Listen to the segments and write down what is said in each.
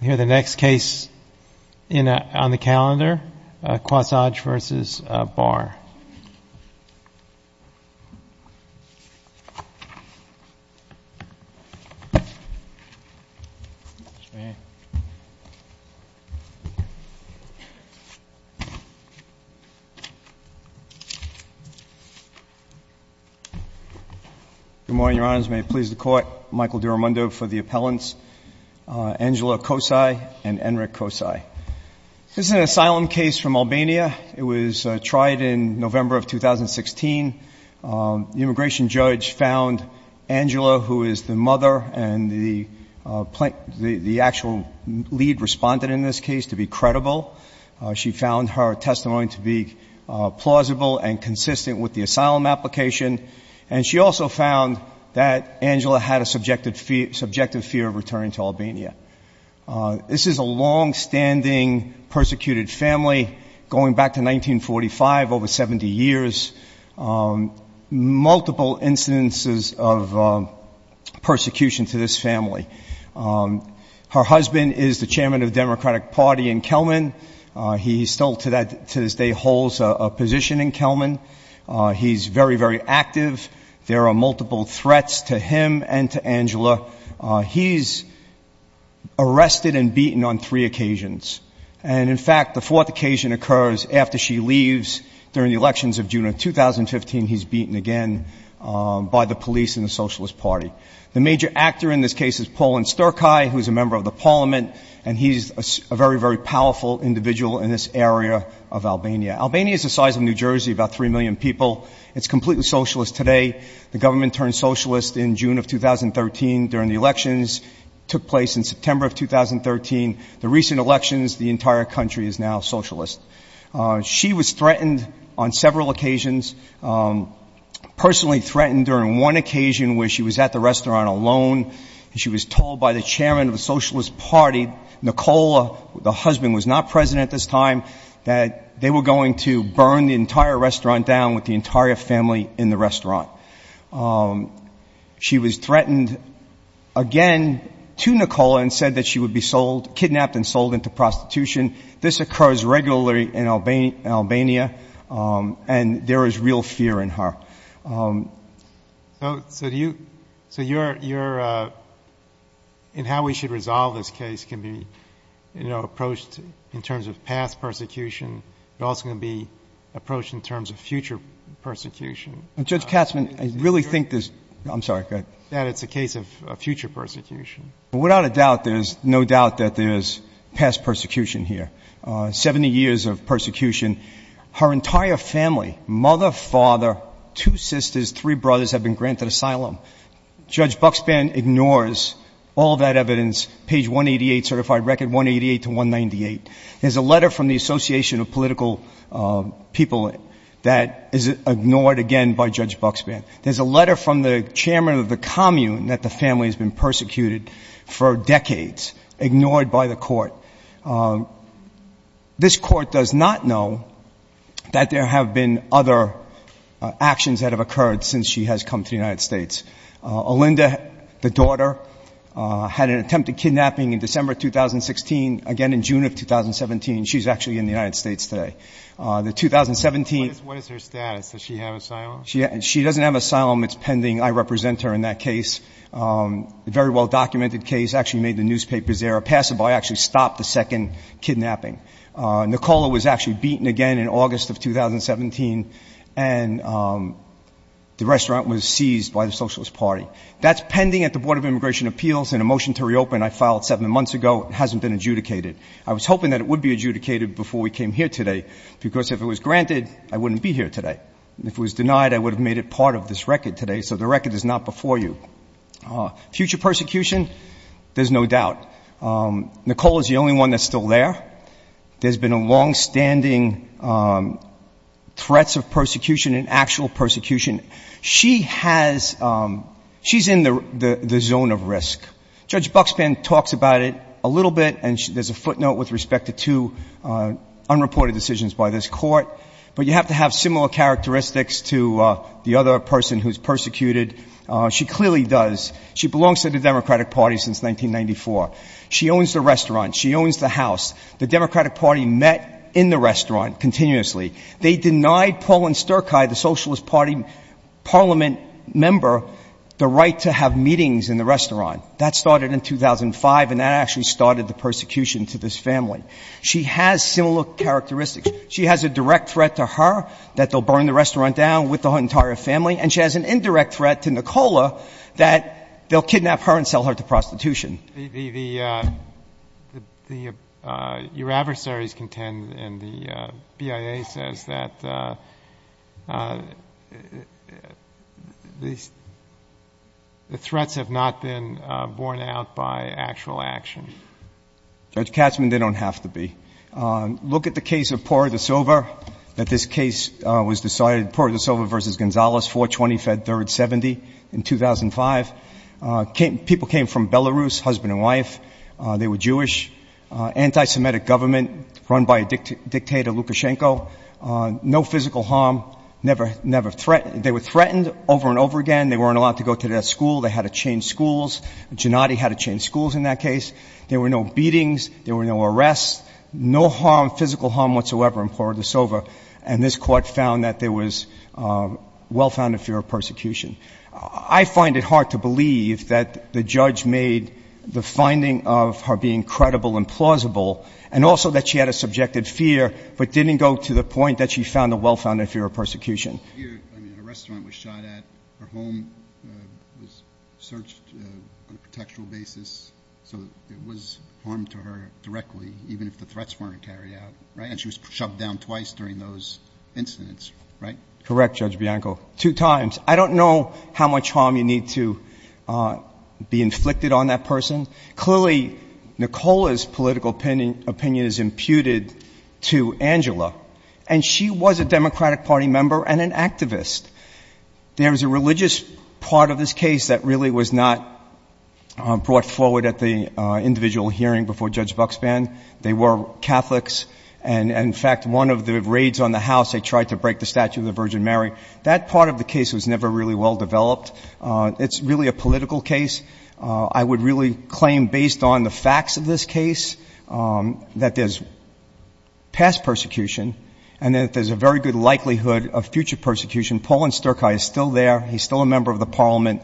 I hear the next case on the calendar, QOSAJ v. Barr. Good morning, Your Honors. May it please the Court, Michael Duramundo for the appellants, Angela QOSAJ and Enric QOSAJ. This is an asylum case from Albania. It was tried in November of 2016. The immigration judge found Angela, who is the mother and the actual lead respondent in this case, to be credible. She found her testimony to be plausible and consistent with the asylum application, and she also found that Angela had a subjective fear of returning to Albania. This is a longstanding persecuted family, going back to 1945, over 70 years. Multiple instances of persecution to this family. Her husband is the chairman of the party. He's very, very active. There are multiple threats to him and to Angela. He's arrested and beaten on three occasions. And, in fact, the fourth occasion occurs after she leaves during the elections of June of 2015. He's beaten again by the police and the Socialist Party. The major actor in this case is Paulin Sterkaj, who is a member of the parliament, and he's a very, very powerful individual in this area of Albania. Albania is the size of New Jersey, about 3 million people. It's completely socialist today. The government turned socialist in June of 2013 during the elections. It took place in September of 2013. The recent elections, the entire country is now socialist. She was threatened on several occasions. Personally threatened during one occasion where she was at the restaurant alone, and she was told by the chairman of the Socialist Party, Nicola, the husband, was not president at this time, that they were going to burn the entire restaurant down with the entire family in the restaurant. She was threatened again to Nicola and said that she would be sold, kidnapped and sold into prostitution. This occurs regularly in Albania, and there is real fear in her. So, you're, in how we should resolve this case can be, you know, approached in terms of past persecution. It's also going to be approached in terms of future persecution. Judge Katzman, I really think this... I'm sorry, go ahead. That it's a case of future persecution. Without a doubt, there's no doubt that there's past persecution here. Seventy years of persecution. Her entire family, mother, father, two sisters, three brothers, have been granted asylum. Judge Buxman ignores all that evidence, page 188, certified record 188 to 198. There's a letter from the Association of Political People that is ignored again by Judge Buxman. There's a letter from the chairman of the commune that the family has been persecuted for decades, ignored by the court. This court does not know that there have been other actions that have occurred since she has come to the United States. Olinda, the daughter, had an attempt at kidnapping in December 2016. Again, in June of 2017, she's actually in the United States today. The 2017... What is her status? Does she have asylum? She doesn't have asylum. It's pending. I represent her in that case. A very well-documented case actually made the newspapers there. A passerby actually stopped the second kidnapping. Nicola was actually beaten again in August of 2017, and the restaurant was seized by the Socialist Party. That's pending at the Board of Immigration Appeals, and a motion to reopen I filed seven months ago. It hasn't been adjudicated. I was hoping that it would be adjudicated before we came here today, because if it was granted, I wouldn't be here today. If it was denied, I would have made it part of this record today, so the record is not before you. Future persecution? There's no doubt. Nicola is the only one that's still there. There's been longstanding threats of persecution and actual persecution. She has... She's in the zone of risk. Judge Buxpan talks about it a little bit, and there's a footnote with respect to two people. But you have to have similar characteristics to the other person who's persecuted. She clearly does. She belongs to the Democratic Party since 1994. She owns the restaurant. She owns the house. The Democratic Party met in the restaurant continuously. They denied Pauline Sterkai, the Socialist Party parliament member, the right to have meetings in the restaurant. That started in 2005, and that actually started the persecution to this family. She has similar characteristics. She has a direct threat to her that they'll burn the restaurant down with the entire family, and she has an indirect threat to Nicola that they'll kidnap her and sell her to prostitution. Your adversaries contend, and the BIA says that the threats have not been borne out by actual action. Judge Katzmann, they don't have to be. Look at the case of Pora da Silva, that this case was decided, Pora da Silva v. Gonzalez, 4-20-3-70 in 2005. People came from Belarus, husband and wife. They were Jewish. Anti-Semitic government run by a dictator, Lukashenko. No physical harm. They were threatened over and over again. They weren't allowed to go to that school. They had to change schools. Gennady had to change schools in that case. There were no beatings. There were no arrests. No physical harm whatsoever in Pora da Silva, and this court found that there was well-founded fear of persecution. I find it hard to believe that the judge made the finding of her being credible and plausible, and also that she had a subjective fear, but didn't go to the point that she found a well-founded fear of persecution. A restaurant was shot at. Her home was searched on a contextual basis, so it was harm to her directly, even if the threats weren't carried out, and she was shoved down twice during those incidents, right? Correct, Judge Bianco. Two times. I don't know how much harm you need to be inflicted on that person. Clearly, Nicola's political opinion is imputed to Angela, and she was a Democratic Party member and an activist. There was a religious part of this case that really was not brought forward at the individual hearing before Judge Buxband. They were Catholics, and in fact, one of the raids on the house, they tried to break the statue of the Virgin Mary. That part of the case was never really well-developed. It's really a political case. I would really claim, based on the facts of this case, that there's past persecution, and that there's a very good likelihood of future persecution. Paulin Sterkaj is still there. He's still a member of the Parliament.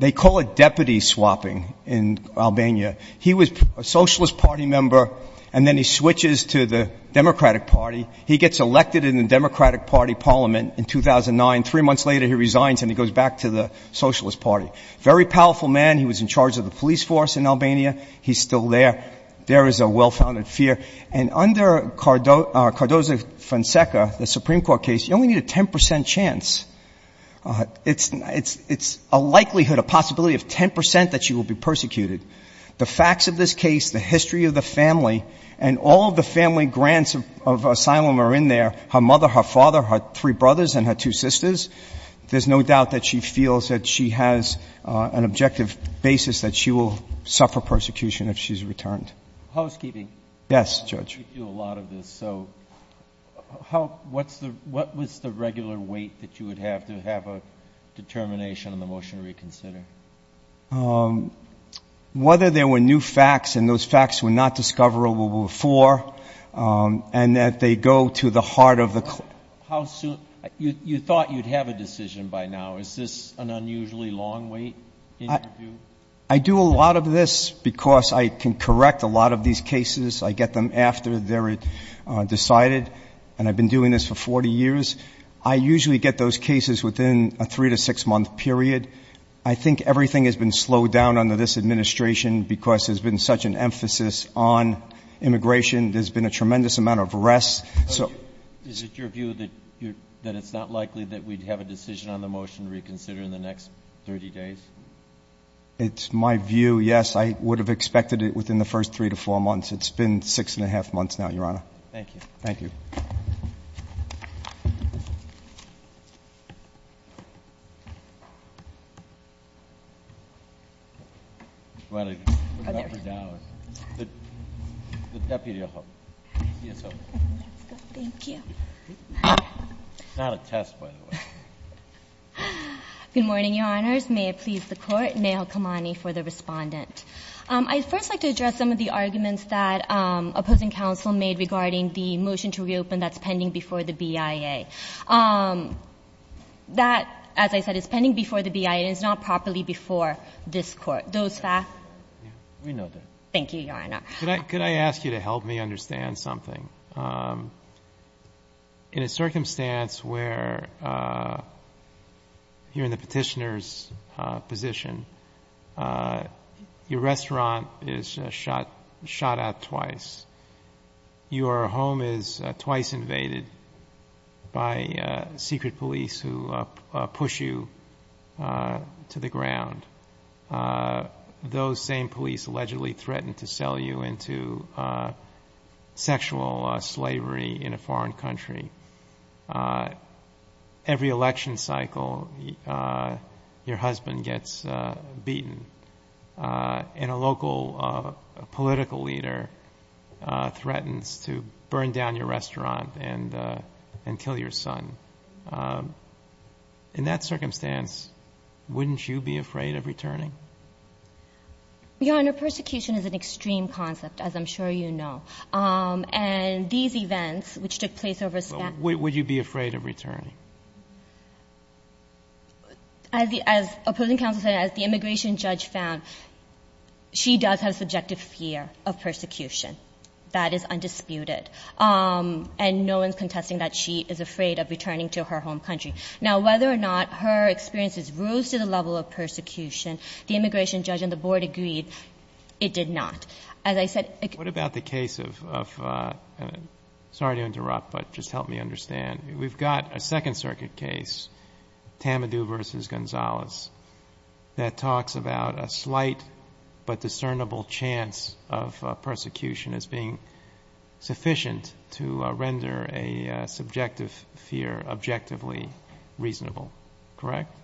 They call it deputy swapping in Albania. He was a Socialist Party member, and then he switches to the Democratic Party. He gets elected in the Democratic Party Parliament in 2009. Three months later, he resigns, and he goes back to the Socialist Party. Very powerful man. He was in charge of the police force in Albania. He's still there. There is a well-founded fear. Under Cardoza-Fonseca, the Supreme Court case, you only need a 10% chance. It's a likelihood, a possibility of 10% that she will be persecuted. The facts of this case, the history of the family, and all of the family grants of asylum are in there. Her mother, her father, her three brothers, and her two sisters. There's no doubt that she feels that she has an objective basis that she will suffer persecution if she's returned. Housekeeping. Yes, Judge. You do a lot of this. What was the regular wait that you would have to have a determination on the motion to reconsider? Whether there were new facts, and those facts were not discoverable before, and that they go to the heart of the court. You thought you'd have a decision by now. Is this an unusually long wait? I do a lot of this because I can correct a lot of these cases. I get them after they're decided. I've been doing this for 40 years. I usually get those cases within a three to six month period. I think everything has been slowed down under this administration because there's been such an emphasis on immigration. There's been a tremendous amount of arrests. Is it your view that it's not likely that we'd have a decision on the motion to reconsider in the next 30 days? It's my view, yes. I would have expected it within the first three to four months. It's been six and a half months now, Your Honor. Thank you. Good morning, Your Honors. May it please the Court, Neha Kamani for the respondent. I'd first like to address some of the arguments that opposing counsel made regarding the motion to reopen that's pending before the BIA. That, as I said, is pending before the BIA, and it's not properly before this Court. Those facts? We know that. Thank you, Your Honor. Could I ask you to help me understand something? In a circumstance where you're in the petitioner's position, your restaurant is shot out twice. Your home is twice invaded by secret police who push you to the ground. Those same police allegedly threaten to sell you into sexual slavery in a foreign country. Every election cycle, your husband gets shot twice. Your son gets beaten, and a local political leader threatens to burn down your restaurant and kill your son. In that circumstance, wouldn't you be afraid of returning? Your Honor, persecution is an extreme concept, as I'm sure you know. And these events, which took place over Spanish— Would you be afraid of returning? As the opposing counsel said, as the immigration judge found, she does have subjective fear of persecution. That is undisputed. And no one's contesting that she is afraid of returning to her home country. Now, whether or not her experiences rose to the level of persecution, the immigration judge and the Board agreed it did not. As I said— What about the case of—sorry to interrupt, but just help me understand. We've got a Second Circuit case, Tamadou v. Gonzalez, that talks about a slight but discernible chance of persecution as being sufficient to render a subjective fear objectively reasonable, correct?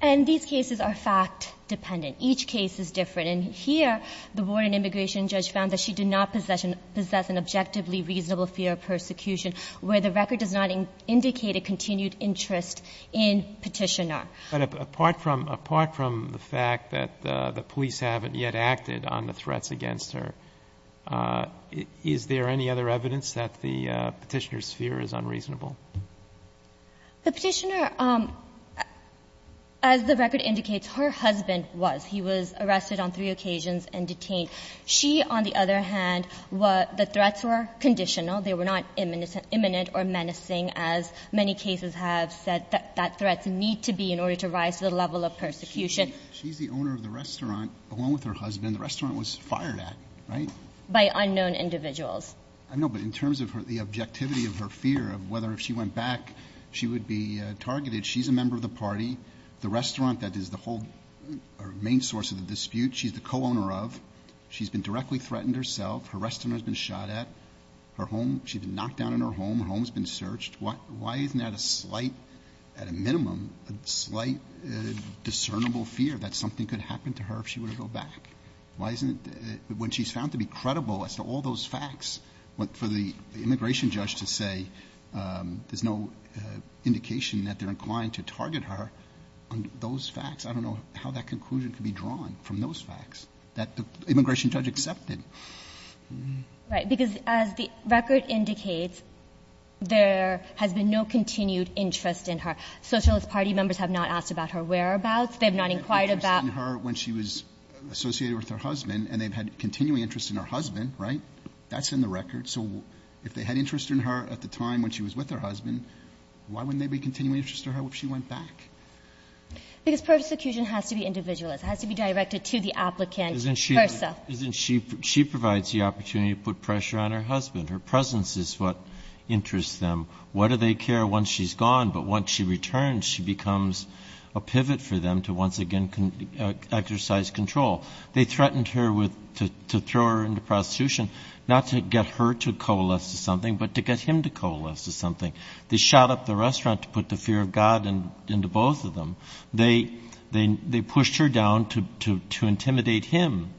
And these cases are fact-dependent. Each case is different. And here, the Board and immigration judge found that she did not possess an objectively reasonable fear of persecution, where the record does not indicate a continued interest in Petitioner. But apart from the fact that the police haven't yet acted on the threats against her, is there any other evidence that the Petitioner's fear is unreasonable? The Petitioner, as the record indicates, her husband was. He was arrested on three occasions. She, on the other hand, the threats were conditional. They were not imminent or menacing, as many cases have said that threats need to be in order to rise to the level of persecution. She's the owner of the restaurant, along with her husband. The restaurant was fired at, right? By unknown individuals. I know, but in terms of the objectivity of her fear of whether if she went back she would be targeted, she's a member of the party. The restaurant that is the whole main source of the dispute, she's the co-owner of. She's been directly threatened herself. Her restaurant has been shot at. Her home, she's been knocked down in her home. Her home's been searched. Why isn't that a slight, at a minimum, a slight discernible fear that something could happen to her if she were to go back? Why isn't it, when she's found to be credible as to all those facts, for the immigration judge to say there's no indication that they're inclined to target her on those facts. I don't know how that conclusion could be drawn from those facts that the immigration judge accepted. Right, because as the record indicates, there has been no continued interest in her. Socialist party members have not asked about her whereabouts. They've not inquired about... They had interest in her when she was associated with her husband, and they've had continuing interest in her husband, right? That's in the record. So if they had interest in her at the time when she was with her husband, why wouldn't there be continuing interest in her if she went back? Because persecution has to be individualist. It has to be directed to the applicant, versa. She provides the opportunity to put pressure on her husband. Her presence is what interests them. Why do they care once she's gone? But once she returns, she becomes a pivot for them to once again exercise control. They threatened her to throw her into prostitution, not to get her to coalesce to something, but to get him to coalesce to something. They shot up the restaurant to put the fear of both of them. They pushed her down to intimidate him.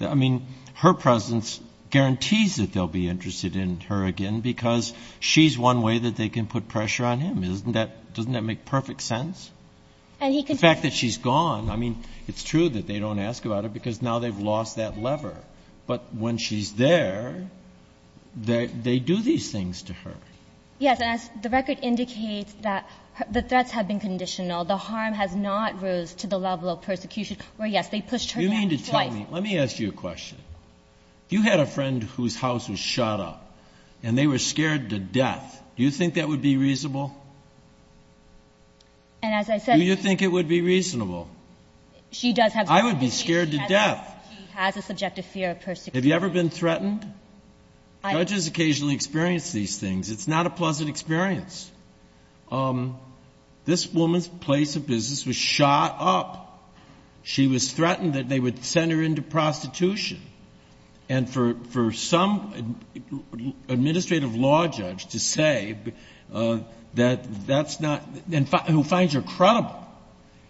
I mean, her presence guarantees that they'll be interested in her again, because she's one way that they can put pressure on him. Isn't that — doesn't that make perfect sense? And he could... The fact that she's gone, I mean, it's true that they don't ask about her, because now they've lost that lever. But when she's there, they do these things to her. Yes, and as the record indicates that the threats have been conditional. The harm has not rose to the level of persecution, where, yes, they pushed her down twice. You mean to tell me — let me ask you a question. If you had a friend whose house was shot up, and they were scared to death, do you think that would be reasonable? And as I said — Do you think it would be reasonable? She does have — I would be scared to death. He has a subjective fear of persecution. Have you ever been threatened? Judges occasionally experience these things. It's not a pleasant experience. This woman's place of business was shot up. She was threatened that they would send her into prostitution. And for some administrative law judge to say that that's not — who finds her credible,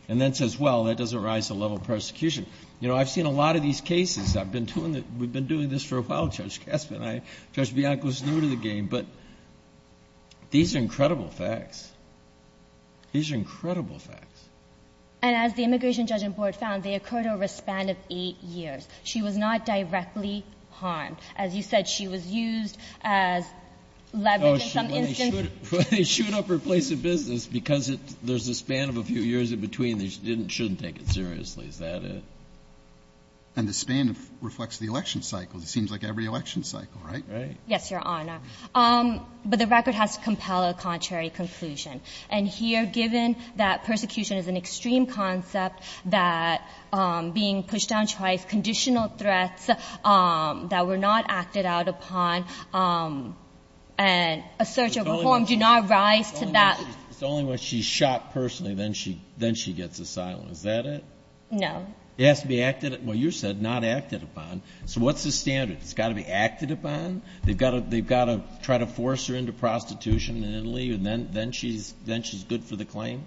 and then says, well, that doesn't rise to the You know, I've seen a lot of these cases. I've been doing this — we've been doing this for a while, Judge Gaspin. Judge Bianco is new to the game. But these are incredible facts. These are incredible facts. And as the immigration judge and board found, they occurred over a span of eight years. She was not directly harmed. As you said, she was used as leverage in some instances. When they shoot up her place of business, because there's a span of a few years in And the span reflects the election cycle. It seems like every election cycle, right? Right. Yes, Your Honor. But the record has to compel a contrary conclusion. And here, given that persecution is an extreme concept, that being pushed down twice, conditional threats that were not acted out upon, and a search of a form do not rise to that — It's only when she's shot personally, then she gets asylum. Is that it? No. It has to be acted — well, you said not acted upon. So what's the standard? It's got to be acted upon? They've got to try to force her into prostitution in Italy, and then she's good for the claim?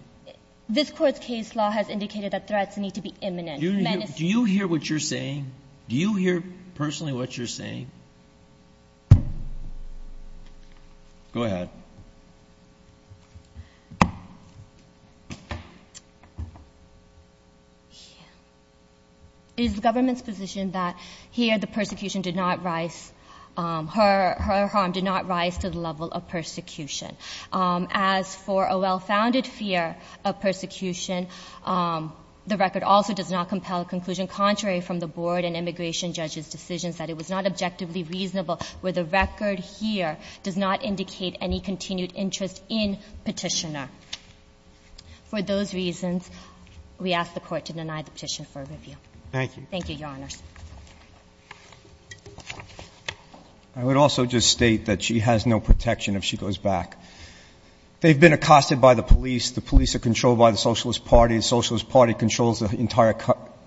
This Court's case law has indicated that threats need to be imminent. Do you hear what you're saying? Do you hear personally what you're saying? Go ahead. It is the government's position that here, the persecution did not rise — her harm did not rise to the level of persecution. As for a well-founded fear of persecution, the record also does not compel a conclusion contrary from the board and immigration judges' decisions that it was not objectively reasonable, where the record here does not indicate any continued interest in Petitioner. For those reasons, we ask the Court to deny the petition for review. Thank you. Thank you, Your Honors. I would also just state that she has no protection if she goes back. They've been accosted by the police. The police are controlled by the Socialist Party. The Socialist Party controls the entire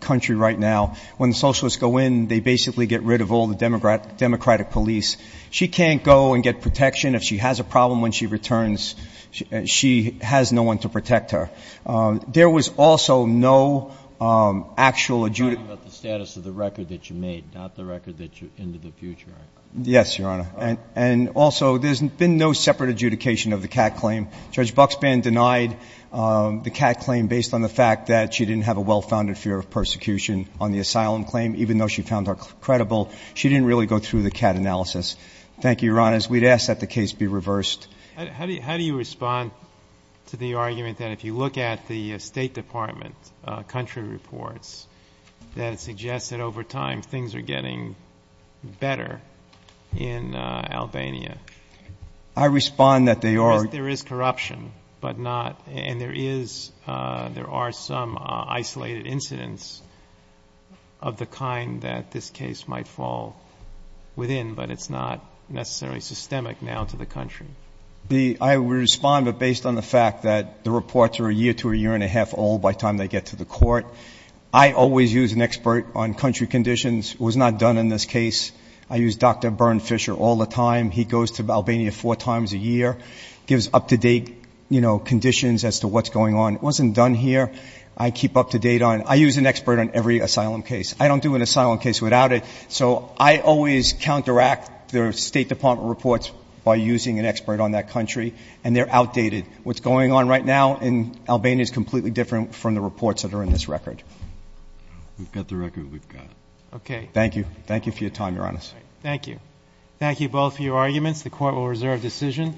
country right now. When the Socialists go in, they basically get rid of all the Democratic police. She can't go and get protection. If she has a problem when she returns, she has no one to protect her. There was also no actual — I'm talking about the status of the record that you made, not the record that you — into the future, I believe. Yes, Your Honor. And also, there's been no separate adjudication of the Catt claim. Judge Buxban denied the Catt claim based on the fact that she didn't have a well-founded fear of persecution on the asylum claim, even though she found her credible. She didn't really go through the Catt analysis. Thank you, Your Honors. We'd ask that the case be reversed. How do you respond to the argument that if you look at the State Department country reports, that it suggests that over time things are getting better in Albania? I respond that they are — There is corruption, but not — and there is — there are some isolated incidents of the kind that this case might fall within, but it's not necessarily systemic now to the country. I respond that based on the fact that the reports are a year to a year and a half old by time they get to the court. I always use an expert on country conditions. It was not done in this case. I use Dr. Bernd Fischer all the time. He goes to Albania four times a year, gives up-to-date, you know, conditions as to what's going on. It wasn't done here. I keep up-to-date on — I use an expert on every asylum case. I don't do an asylum case without it. So I always counteract the State Department reports by using an expert on that country, and they're outdated. What's going on right now in Albania is completely different from the reports that are in this record. We've got the record we've got. Okay. Thank you. Thank you for your time, Your Honors. Thank you. Thank you both for your arguments. The Court will reserve decision.